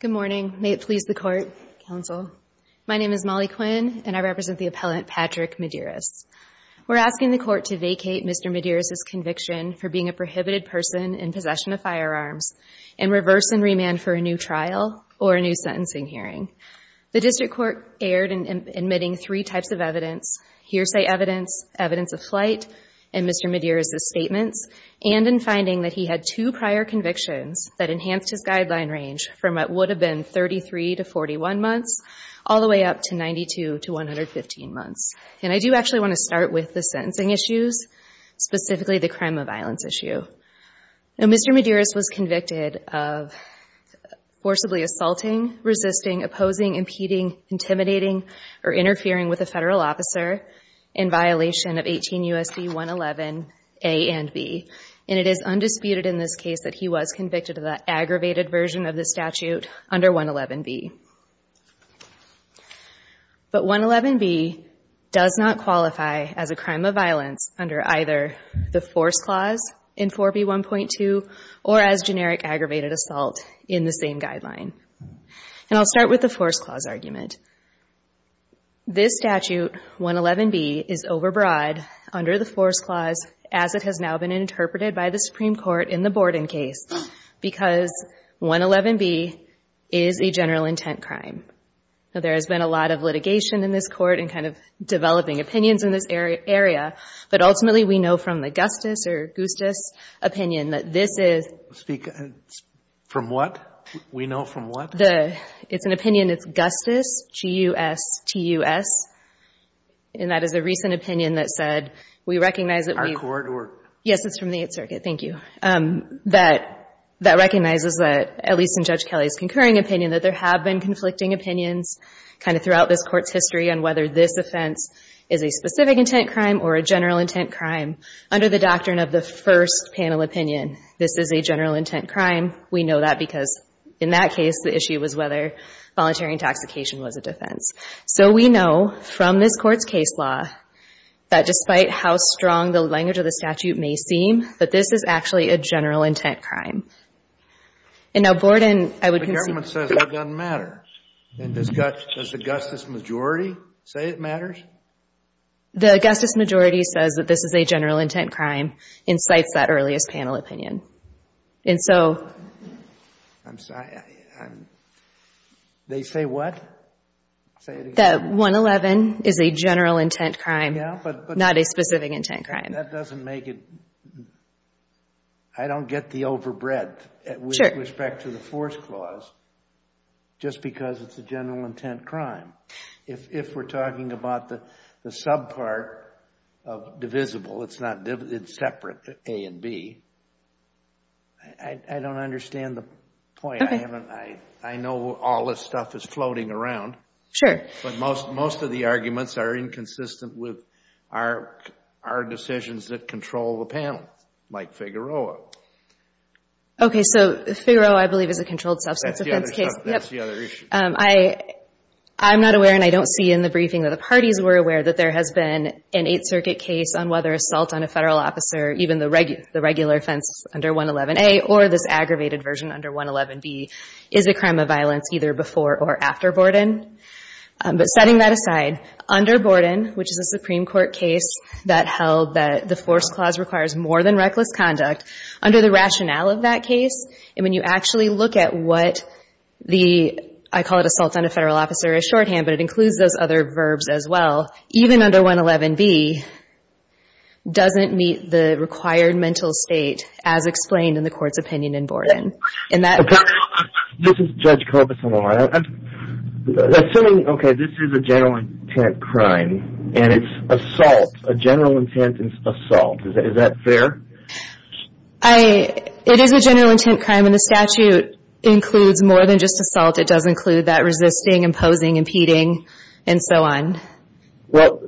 Good morning. May it please the court, counsel. My name is Molly Quinn, and I represent the appellant, Patrick Medearis. We're asking the court to vacate Mr. Medearis' conviction for being a prohibited person in possession of firearms and reverse and remand for a new trial or a new sentencing hearing. The district court erred in admitting three types of evidence, hearsay evidence, evidence of flight, and Mr. Medearis' statements, and in finding that he had two prior convictions that would have been 33 to 41 months all the way up to 92 to 115 months. And I do actually want to start with the sentencing issues, specifically the crime of violence issue. Now, Mr. Medearis was convicted of forcibly assaulting, resisting, opposing, impeding, intimidating, or interfering with a federal officer in violation of 18 U.S.C. 111 A and B. And it is undisputed in this case that he was convicted of that aggravated version of the statute under 111 B. But 111 B does not qualify as a crime of violence under either the force clause in 4B 1.2 or as generic aggravated assault in the same guideline. And I'll start with the force clause argument. This statute, 111 B, is overbroad under the force clause as it has now been interpreted by the Supreme Court in the Borden case, because 111 B is a general intent crime. There has been a lot of litigation in this court and kind of developing opinions in this area. But ultimately, we know from the Gustus or Gustus opinion that this is. Speak from what? We know from what? It's an opinion. It's Gustus, G-U-S-T-U-S. And that is a recent opinion that said, we recognize that we've. Our court or? Yes, it's from the Eighth Circuit. Thank you. That recognizes that, at least in Judge Kelly's concurring opinion, that there have been conflicting opinions kind of throughout this court's history on whether this offense is a specific intent crime or a general intent crime. Under the doctrine of the first panel opinion, this is a general intent crime. We know that because in that case, the issue was whether voluntary intoxication was a defense. So we know from this court's case law that despite how strong the language of the statute may seem, that this is actually a general intent crime. And now, Borden, I would. The government says that doesn't matter. And does the Gustus majority say it matters? The Gustus majority says that this is a general intent crime and cites that earliest panel opinion. And so. I'm sorry. They say what? That 111 is a general intent crime, not a specific intent crime. That doesn't make it. I don't get the overbreadth with respect to the force clause just because it's a general intent crime. If we're talking about the subpart of divisible, it's not separate, A and B. I don't understand the point. I know all this stuff is floating around. Sure. But most of the arguments are inconsistent with our decisions that control the panel, like Figueroa. OK, so Figueroa, I believe, is a controlled substance offense case. That's the other issue. I'm not aware and I don't see in the briefing that the parties were aware that there has been an Eighth Circuit case on whether assault on a federal officer, even the regular offense under 111A, or this aggravated version under 111B, is a crime of violence either before or after Borden. But setting that aside, under Borden, which is a Supreme Court case that held that the force clause requires more than reckless conduct, under the rationale of that case, and when you actually look at what the, I call it assault on a federal officer, a shorthand, but it includes those other verbs as well, even under 111B doesn't meet the required mental state as explained in the court's opinion in Borden. And that- This is Judge Corbison, all right? Assuming, OK, this is a general intent crime, and it's assault, a general intent assault, is that fair? It is a general intent crime, and the statute includes more than just assault. It does include that resisting, imposing, impeding, and so on. Well,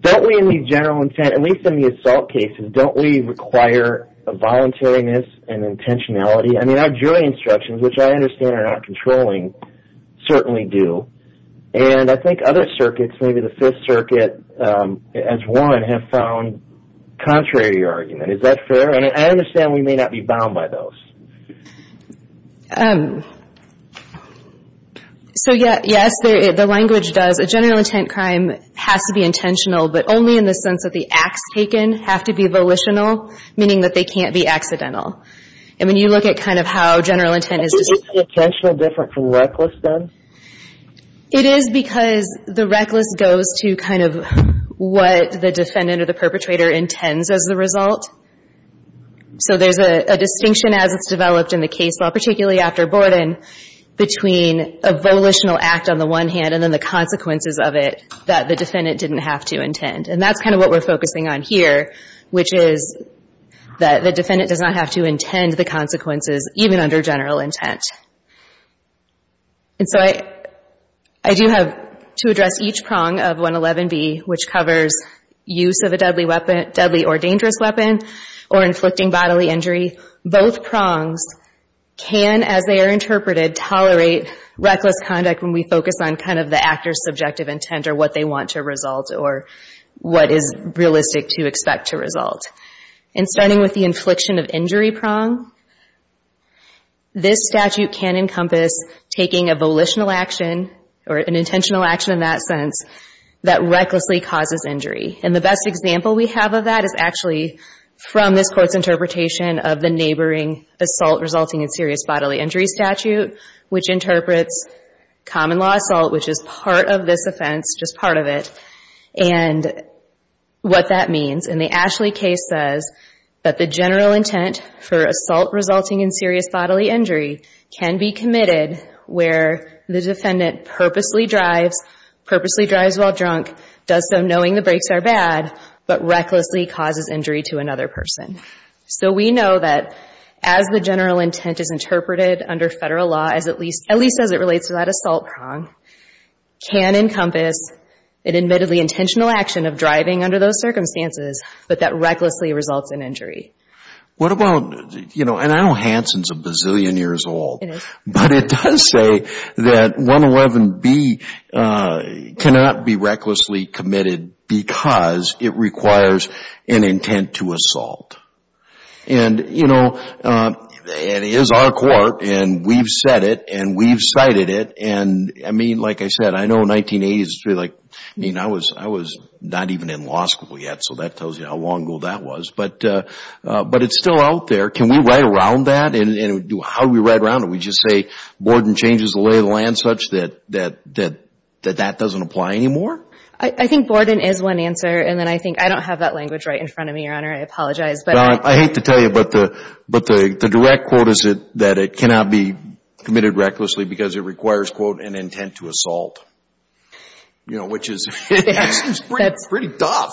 don't we in the general intent, at least in the assault cases, don't we require a voluntariness and intentionality? I mean, our jury instructions, which I understand are not controlling, certainly do. And I think other circuits, maybe the Fifth Circuit as one, have found contrary to your argument. Is that fair? And I understand we may not be bound by those. So yes, the language does. A general intent crime has to be intentional, but only in the sense that the acts taken have to be volitional, meaning that they can't be accidental. And when you look at kind of how general intent is just Is the intentional different from reckless, then? It is because the reckless goes to kind of what the defendant or the perpetrator intends as the result. So there's a distinction as it's developed in the case law, particularly after Borden, between a volitional act on the one hand, and then the consequences of it that the defendant didn't have to intend. And that's kind of what we're focusing on here, which is that the defendant does not have to intend the consequences, even under general intent. And so I do have to address each prong of 111B, which covers use of a deadly weapon, deadly or dangerous weapon, or inflicting bodily injury. Both prongs can, as they are interpreted, tolerate reckless conduct when we focus on kind of the actor's subjective intent or what they want to result or what is realistic to expect to result. And starting with the infliction of injury prong, this statute can encompass taking a volitional action or an intentional action in that sense that recklessly causes injury. And the best example we have of that is actually from this court's interpretation of the neighboring assault resulting in serious bodily injury statute, which interprets common law assault, which is part of this offense, just part of it. And what that means, in the Ashley case says that the general intent for assault resulting in serious bodily injury can be committed where the defendant purposely drives while drunk, does so knowing the brakes are bad, but recklessly causes injury to another person. So we know that as the general intent is interpreted under federal law, at least as it relates to that assault prong, can encompass an admittedly intentional action of driving under those circumstances, but that recklessly results in injury. What about, you know, and I know Hansen's a bazillion years old, but it does say that 111B cannot be recklessly committed because it requires an intent to assault. And you know, it is our court, and we've said it, and we've cited it. And I mean, like I said, I know 1980s is really like, I mean, I was not even in law school yet, so that tells you how long ago that was. But it's still out there. Can we write around that? And how do we write around it? We just say Borden changes the lay of the land such that that doesn't apply anymore? I think Borden is one answer. And then I think, I don't have that language right in front of me, Your Honor. I apologize. But I hate to tell you, but the direct quote that it cannot be committed recklessly because it requires, quote, an intent to assault, you know, which is pretty tough,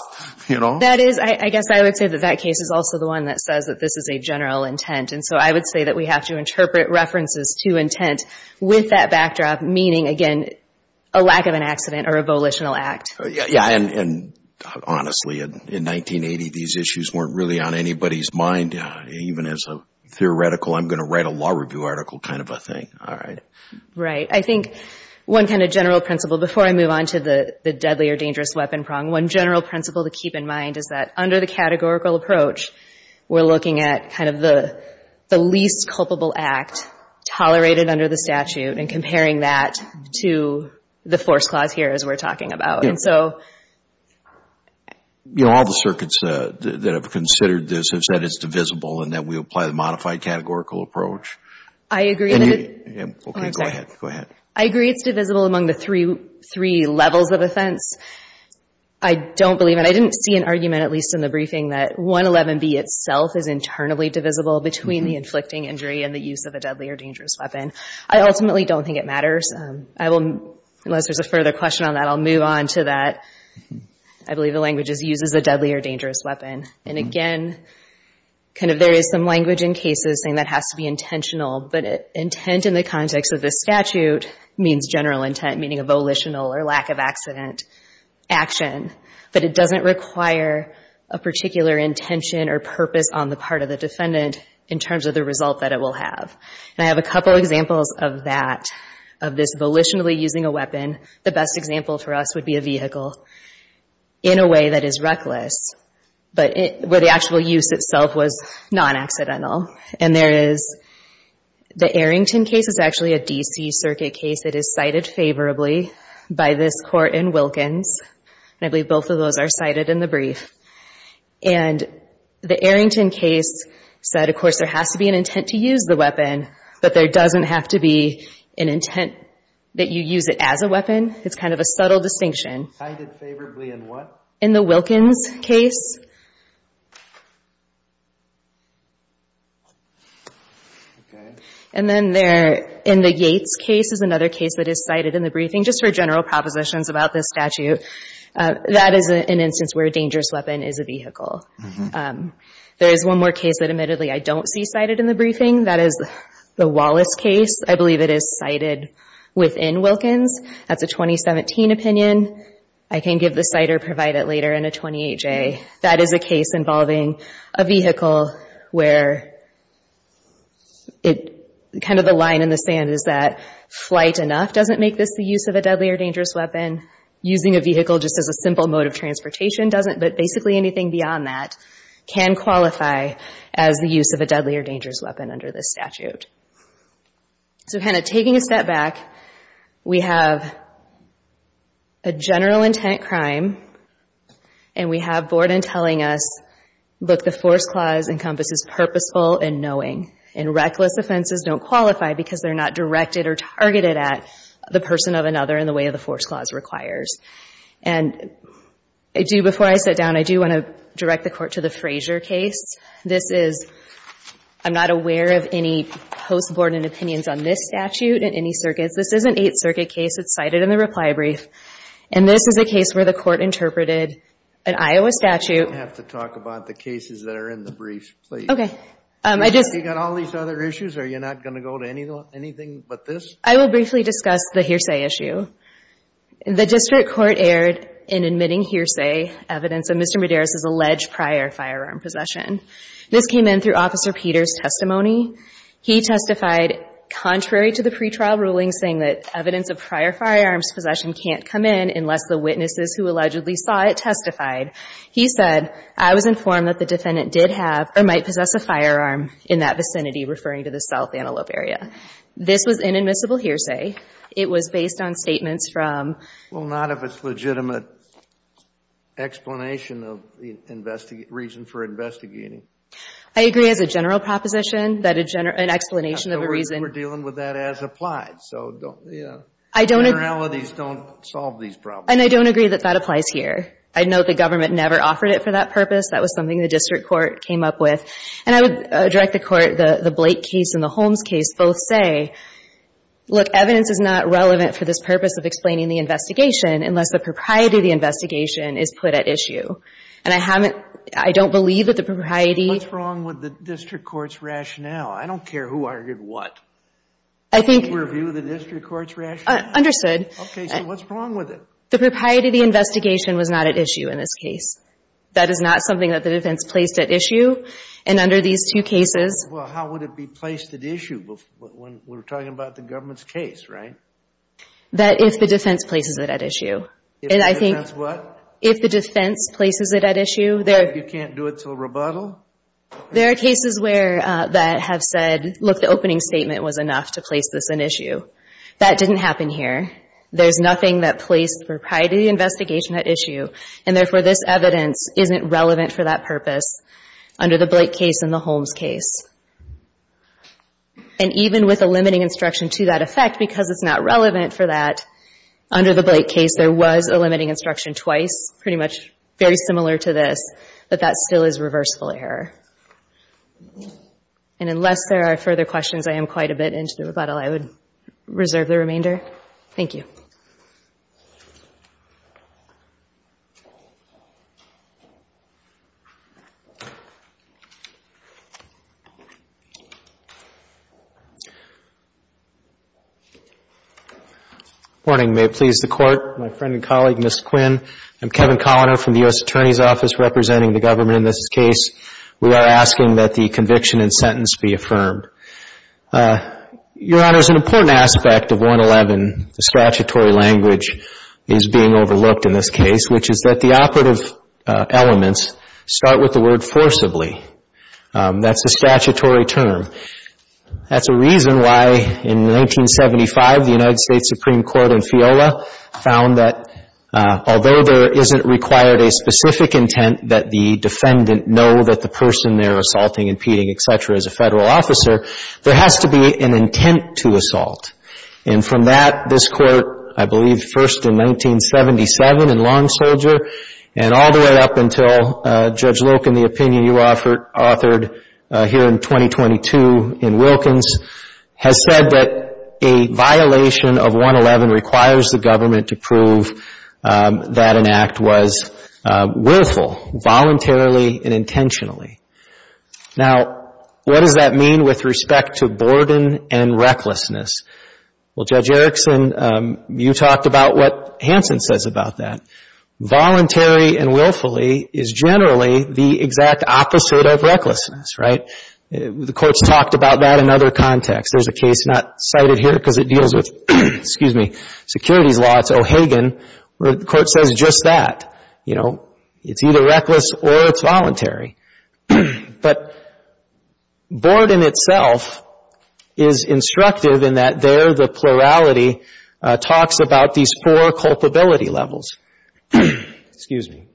you know? That is, I guess I would say that that case is also the one that says that this is a general intent. And so I would say that we have to interpret references to intent with that backdrop, meaning, again, a lack of an accident or a volitional act. Yeah, and honestly, in 1980, these issues weren't really on anybody's mind. Even as a theoretical, I'm going to write a law review article kind of a thing, all right? Right. I think one kind of general principle, before I move on to the deadly or dangerous weapon prong, one general principle to keep in mind is that under the categorical approach, we're looking at kind of the least culpable act tolerated under the statute and comparing that to the force clause here, as we're talking about. And so all the circuits that have considered this have said it's divisible and that we apply the modified categorical approach. I agree that it's divisible among the three levels of offense. I don't believe it. I didn't see an argument, at least in the briefing, that 111B itself is internally divisible between the inflicting injury and the use of a deadly or dangerous weapon. I ultimately don't think it matters. Unless there's a further question on that, I'll move on to that. I believe the language is, uses a deadly or dangerous weapon. And again, kind of there is some language in cases saying that has to be intentional. But intent in the context of this statute means general intent, meaning a volitional or lack of accident action. But it doesn't require a particular intention or purpose on the part of the defendant in terms of the result that it will have. And I have a couple examples of that, of this volitionally using a weapon. The best example for us would be a vehicle in a way that is reckless. But where the actual use itself was non-accidental. And there is the Arrington case is actually a DC circuit case that is cited favorably by this court in Wilkins. I believe both of those are cited in the brief. And the Arrington case said, of course, there has to be an intent to use the weapon. But there doesn't have to be an intent that you use it as a weapon. It's kind of a subtle distinction. Cited favorably in what? In the Wilkins case. And then there in the Yates case is another case that is cited in the briefing just for general propositions about this statute. That is an instance where a dangerous weapon is a vehicle. There is one more case that admittedly I don't see cited in the briefing. That is the Wallace case. I believe it is cited within Wilkins. That's a 2017 opinion. I can give the cite or provide it later in a 28-J. That is a case involving a vehicle where kind of the line in the sand is that flight enough doesn't make this the use of a deadly or dangerous weapon. Using a vehicle just as a simple mode of transportation doesn't, but basically anything beyond that can qualify as the use of a deadly or dangerous weapon under this statute. So kind of taking a step back, we have a general intent crime. And we have Borden telling us, look, the force clause encompasses purposeful and knowing. And reckless offenses don't qualify because they're not directed or targeted at the person of another in the way of the force clause requires. And before I sit down, I do want to direct the court to the Frazier case. This is, I'm not aware of any post-Borden opinions on this statute in any circuits. This is an Eighth Circuit case. It's cited in the reply brief. And this is a case where the court interpreted an Iowa statute. You don't have to talk about the cases that are in the briefs, please. OK. I just. You've got all these other issues. Are you not going to go to anything but this? I will briefly discuss the hearsay issue. The district court erred in admitting hearsay evidence of Mr. Medeiros' alleged prior firearm possession. This came in through Officer Peters' testimony. He testified, contrary to the pretrial ruling saying that evidence of prior firearms possession can't come in unless the witnesses who allegedly saw it testified. He said, I was informed that the defendant did have or might possess a firearm in that vicinity, referring to the South Antelope area. This was inadmissible hearsay. It was based on statements from. Well, not if it's legitimate explanation of the reason for investigating. I agree as a general proposition that an explanation of a reason. We're dealing with that as applied. So don't. I don't. Generalities don't solve these problems. And I don't agree that that applies here. I'd note the government never offered it for that purpose. That was something the district court came up with. And I would direct the court, the Blake case and the Holmes case, both say, look, evidence is not unless the propriety of the investigation is put at issue. And I haven't, I don't believe that the propriety. What's wrong with the district court's rationale? I don't care who argued what. I think. Did you review the district court's rationale? Understood. OK, so what's wrong with it? The propriety of the investigation was not at issue in this case. That is not something that the defense placed at issue. And under these two cases. Well, how would it be placed at issue when we're talking about the government's case, right? That if the defense places it at issue. If the defense what? If the defense places it at issue. You can't do it till rebuttal? There are cases where that have said, look, the opening statement was enough to place this an issue. That didn't happen here. There's nothing that placed the propriety of the investigation at issue. And therefore, this evidence isn't relevant for that purpose under the Blake case and the Holmes case. And even with a limiting instruction to that effect, because it's not relevant for that, under the Blake case, there was a limiting instruction twice. Pretty much very similar to this. But that still is reversible error. And unless there are further questions, I am quite a bit into the rebuttal. I would reserve the remainder. Thank you. Morning. May it please the Court. My friend and colleague, Ms. Quinn. I'm Kevin Colliner from the US Attorney's Office representing the government in this case. We are asking that the conviction and sentence be affirmed. Your Honor, there's an important aspect of 111. The statutory language is being overlooked in this case, which is that the operative elements start with the word forcibly. That's a statutory term. That's a reason why, in 1975, the United States Supreme Court in FIOLA found that, although there isn't required a specific intent that the defendant know that the person they're assaulting, impeding, et cetera, is a federal officer, there has to be an intent to assault. And from that, this court, I believe, first in 1977 in Long Soldier, and all the way up until Judge Loken, the opinion you authored here in 2022 in Wilkins, has said that a violation of 111 requires the government to prove that an act was willful, voluntarily and intentionally. Now, what does that mean with respect to borden and recklessness? Well, Judge Erickson, you talked about what Hanson says about that. Voluntary and willfully is generally the exact opposite of recklessness, right? The court's talked about that in other contexts. There's a case not cited here because it deals with, excuse me, securities law. It's O'Hagan, where the court says just that. It's either reckless or it's voluntary. But boredom itself is instructive in that there the plurality talks about these four culpability levels. Excuse me.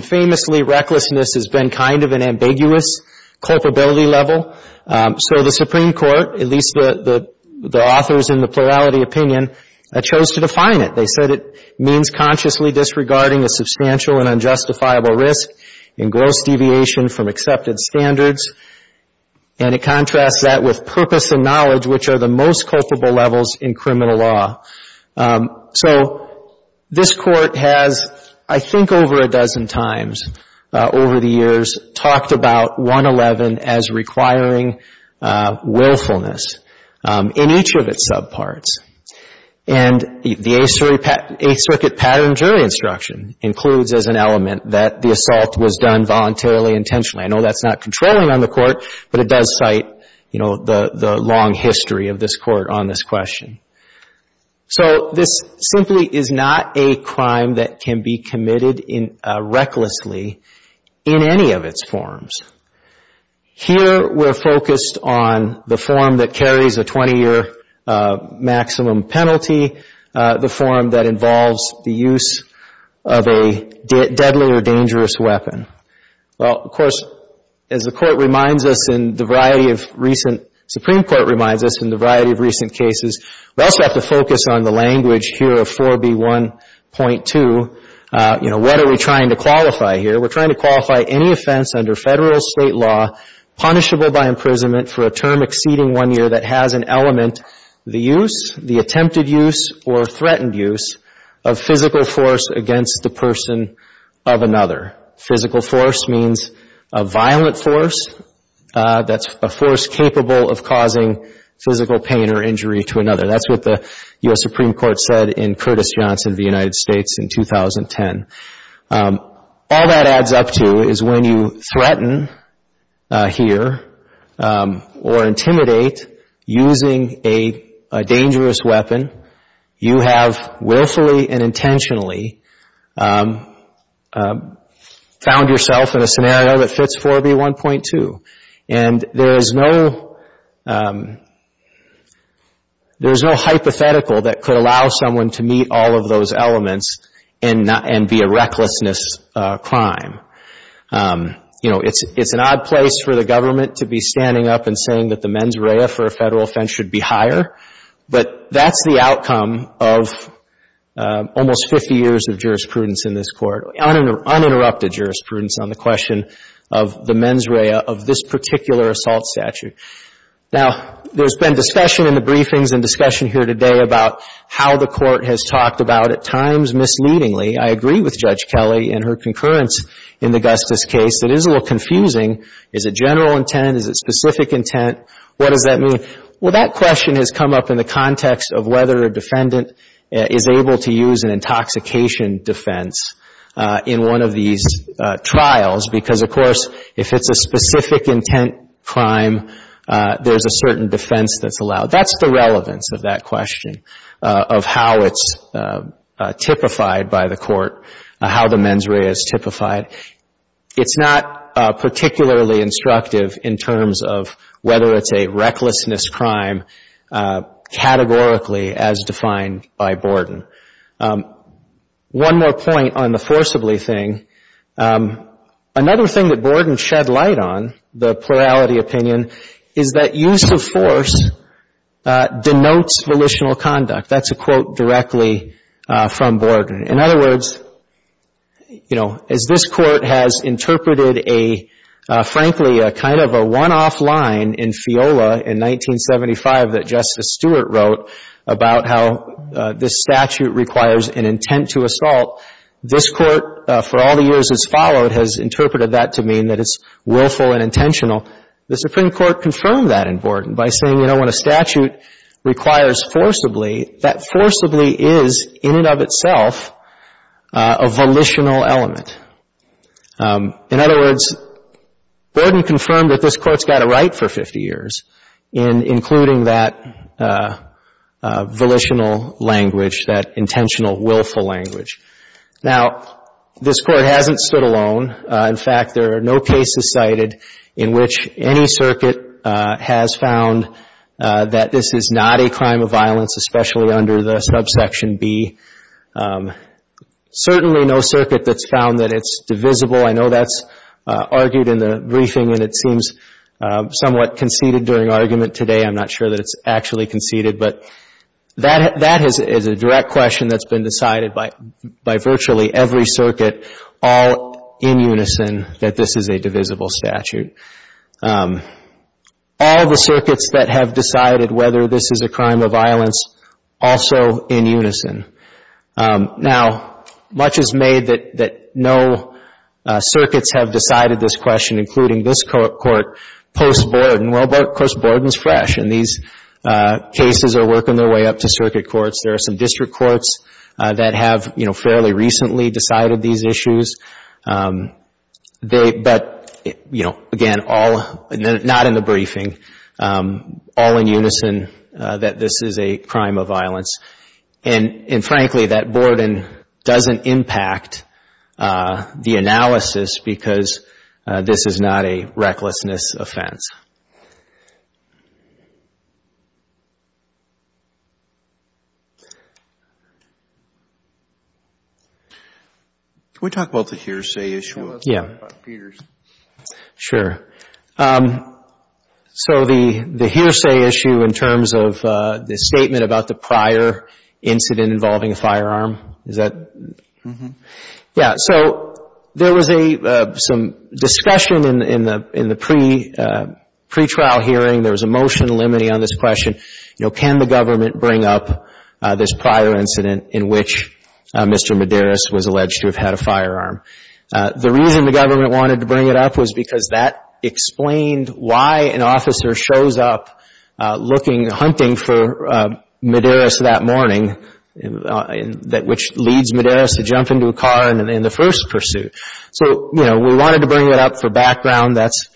Famously, recklessness has been kind of an ambiguous culpability level. So the Supreme Court, at least the authors in the plurality opinion, chose to define it. They said it means consciously disregarding a substantial and unjustifiable risk in gross deviation from accepted standards. And it contrasts that with purpose and knowledge, which are the most culpable levels in criminal law. So this Court has, I think, over a dozen times over the years, talked about 111 as requiring willfulness in each of its subparts. And the Eighth Circuit Pattern Jury Instruction includes as an element that the assault was done voluntarily, intentionally. I know that's not controlling on the Court, but it does cite the long history of this Court on this question. So this simply is not a crime that can be committed recklessly in any of its forms. Here, we're focused on the form that carries a 20-year maximum penalty, the form that involves the use of a deadly or dangerous weapon. Well, of course, as the Supreme Court reminds us in the variety of recent cases, we also have to focus on the language here of 4B1.2. What are we trying to qualify here? We're trying to qualify any offense under federal state law punishable by imprisonment for a term exceeding one year that has an element, the use, the attempted use, or threatened use, of physical force against the person of another. Physical force means a violent force that's a force capable of causing physical pain or injury to another. That's what the U.S. Supreme Court said in Curtis Johnson v. United States in 2010. All that adds up to is when you threaten here or intimidate using a dangerous weapon, you have willfully and intentionally found yourself in a scenario that And there is no hypothetical that could allow someone to meet all of those elements and be a recklessness crime. It's an odd place for the government to be standing up and saying that the mens rea for a federal offense should be higher, but that's the outcome of almost 50 years of jurisprudence in this Court, uninterrupted jurisprudence on the question of the mens rea of this particular assault statute. Now, there's been discussion in the briefings and discussion here today about how the Court has talked about at times misleadingly. I agree with Judge Kelly in her concurrence in the Gustis case. It is a little confusing. Is it general intent? Is it specific intent? What does that mean? Well, that question has come up in the context of whether a defendant is able to use an intoxication defense in one of these trials because, of course, if it's a specific intent crime, there's a certain defense that's allowed. That's the relevance of that question of how it's typified by the Court, how the mens rea is typified. It's not particularly instructive in terms of whether it's a recklessness crime categorically as defined by Borden. One more point on the forcibly thing. Another thing that Borden shed light on, the plurality opinion, is that use of force denotes volitional conduct. That's a quote directly from Borden. In other words, as this Court has interpreted a, frankly, a kind of a one-off line in FIOLA in 1975 that Justice Stewart wrote about how this statute requires an intent to assault, this Court, for all the years that's followed, has interpreted that to mean that it's willful and intentional. The Supreme Court confirmed that in Borden by saying, you know, when a statute requires forcibly, that forcibly is, in and of itself, a volitional element. In other words, Borden confirmed that this Court's had a right for 50 years in including that volitional language, that intentional willful language. Now, this Court hasn't stood alone. In fact, there are no cases cited in which any circuit has found that this is not a crime of violence, especially under the subsection B. Certainly no circuit that's found that it's divisible. I know that's argued in the briefing, and it seems somewhat conceded during argument today. I'm not sure that it's actually conceded. But that is a direct question that's been decided by virtually every circuit, all in unison, that this is a divisible statute. All the circuits that have decided whether this is a crime of violence, also in unison. Now, much is made that no circuits have decided this question, including this Court post-Borden. Well, of course, Borden's fresh. And these cases are working their way up to circuit courts. There are some district courts that have fairly recently decided these issues. But again, not in the briefing, all in unison that this is a crime of violence. And frankly, that Borden doesn't impact the analysis because this is not a recklessness offense. Can we talk about the hearsay issue? Yeah. Sure. So the hearsay issue, in terms of the statement about the prior incident involving a firearm, is that? Yeah. So there was some discussion in the pretrial hearing. There was a motion limiting on this question. Can the government bring up this prior incident in which Mr. Medeiros was alleged to have had a firearm? The reason the government wanted to bring it up was because that explained why an officer shows up looking, hunting for Medeiros that morning, which leads Medeiros to jump into a car in the first pursuit. So we wanted to bring it up for background. That's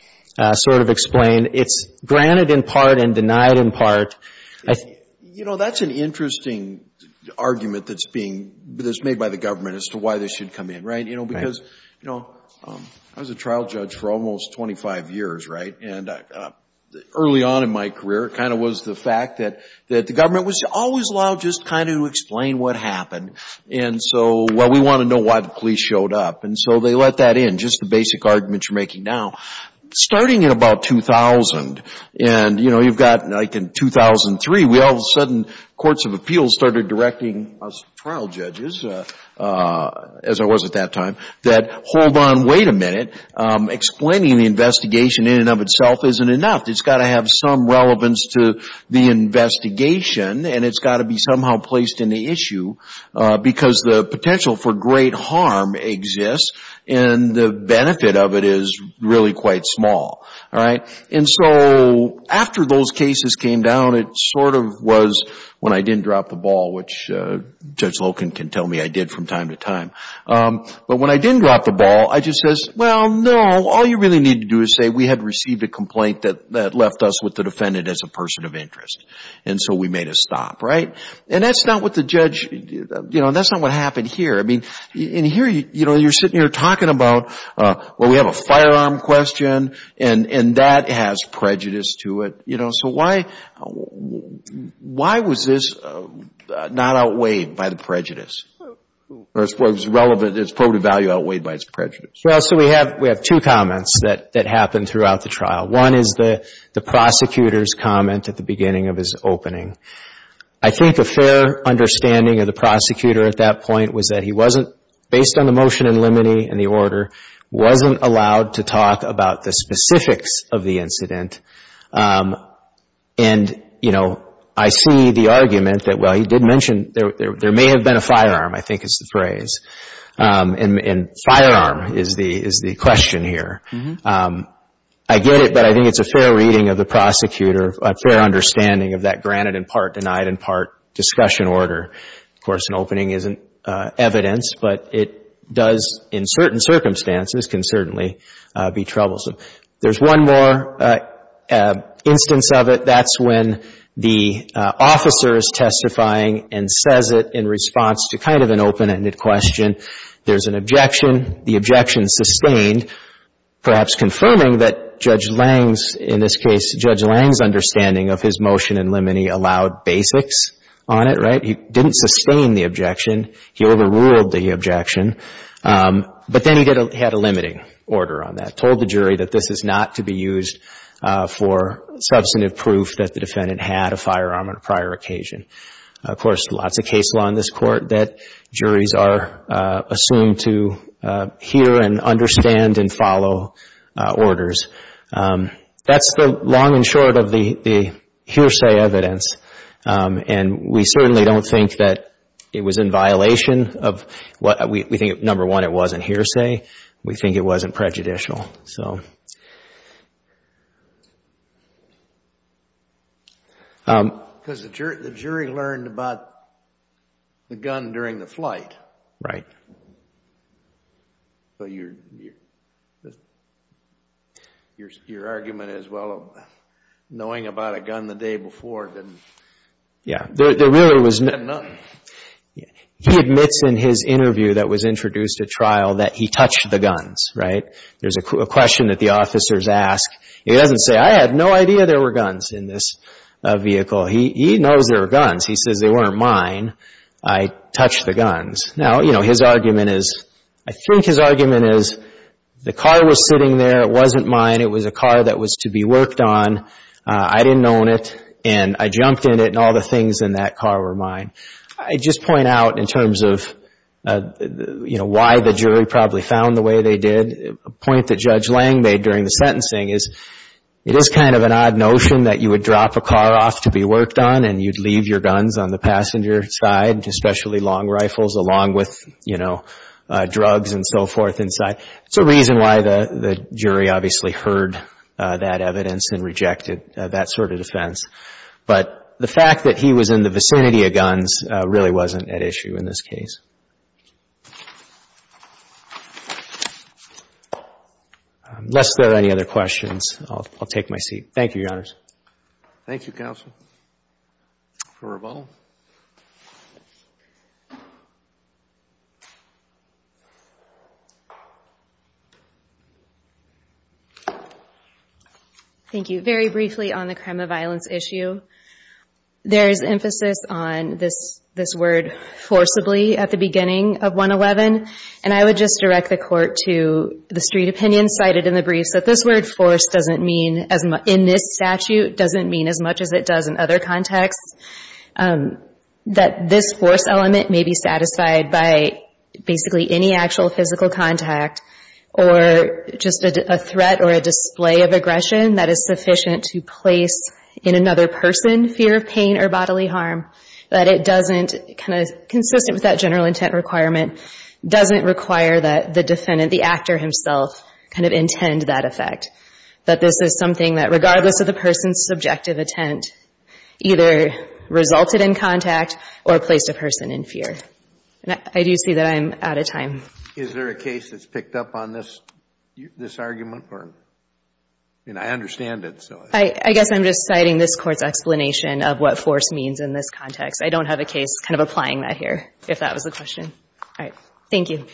sort of explained. It's granted in part and denied in part. That's an interesting argument that's made by the government as to why this should come in. Because I was a trial judge for almost 25 years, right? And early on in my career, it kind of was the fact that the government was always just trying to explain what happened. And so, well, we want to know why the police showed up. And so they let that in, just the basic argument you're making now. Starting in about 2000, and you've got like in 2003, we all of a sudden, courts of appeals started directing us trial judges, as I was at that time, that hold on, wait a minute. Explaining the investigation in and of itself isn't enough. It's got to have some relevance to the investigation. And it's got to be somehow placed in the issue. Because the potential for great harm exists. And the benefit of it is really quite small, all right? And so after those cases came down, it sort of was when I didn't drop the ball, which Judge Loken can tell me I did from time to time. But when I didn't drop the ball, I just says, well, no. All you really need to do is say we had received a complaint that left us with the defendant as a person of interest. And so we made a stop, right? And that's not what the judge, that's not what happened here. I mean, in here, you're sitting here talking about, well, we have a firearm question, and that has prejudice to it. So why was this not outweighed by the prejudice? Or it's relevant, it's probably value outweighed by its prejudice. Well, so we have two comments that happened throughout the trial. One is the prosecutor's comment at the beginning of his opening. I think a fair understanding of the prosecutor at that point was that he wasn't, based on the motion in limine and the order, wasn't allowed to talk about the specifics of the incident. And I see the argument that, well, he did mention there may have been a firearm, I think is the phrase. And firearm is the question here. I get it, but I think it's a fair reading of the prosecutor, a fair understanding of that granted in part, denied in part discussion order. Of course, an opening isn't evidence, but it does, in certain circumstances, can certainly be troublesome. There's one more instance of it. That's when the officer is testifying and says it in response to kind of an open-ended question. There's an objection. The objection sustained, perhaps confirming that Judge Lange's, in this case, Judge Lange's understanding of his motion in limine allowed basics on it. He didn't sustain the objection. He overruled the objection. But then he had a limiting order on that, told the jury that this is not to be used for substantive proof that the defendant had a firearm on a prior occasion. Of course, lots of case law in this court that juries are assumed to hear and understand and follow orders. That's the long and short of the hearsay evidence. And we certainly don't think that it was in violation of what we think, number one, it wasn't hearsay. We think it wasn't prejudicial. Because the jury learned about the gun during the flight. Right. So your argument is, well, knowing about a gun the day before didn't mean nothing. Yeah. He admits in his interview that was introduced at trial that he touched the guns, right? There's a question that the officers ask. He doesn't say, I had no idea there were guns in this vehicle. He knows there were guns. He says, they weren't mine. I touched the guns. Now, his argument is, I think his argument is, the car was sitting there. It wasn't mine. It was a car that was to be worked on. I didn't own it. And I jumped in it, and all the things in that car were mine. I just point out, in terms of why the jury probably found the way they did, a point that Judge Lang made during the sentencing is, it is kind of an odd notion that you would drop a car off to be worked on, and you'd leave your guns on the passenger side, especially long rifles, along with drugs and so forth inside. It's a reason why the jury obviously heard that evidence and rejected that sort of defense. But the fact that he was in the vicinity of guns really wasn't at issue in this case. Unless there are any other questions, I'll take my seat. Thank you, Your Honors. Thank you, counsel. Roberta. Thank you. Very briefly on the crime of violence issue, there is emphasis on this word forcibly at the beginning of 111. And I would just direct the court to the street opinion cited in the briefs, that this word forced in this statute doesn't mean as much as it does in other contexts. That this force element may be satisfied by basically any actual physical contact, or just a threat or a display of aggression that is sufficient to place in another person fear of pain or bodily harm. That it doesn't, consistent with that general intent requirement, doesn't require that the defendant, the actor himself, kind of intend that effect. That this is something that regardless of the person's subjective intent, either resulted in contact or placed a person in fear. I do see that I'm out of time. Is there a case that's picked up on this argument? I understand it. I guess I'm just citing this court's explanation of what force means in this context. I don't have a case kind of applying that here, if that was the question. Thank you.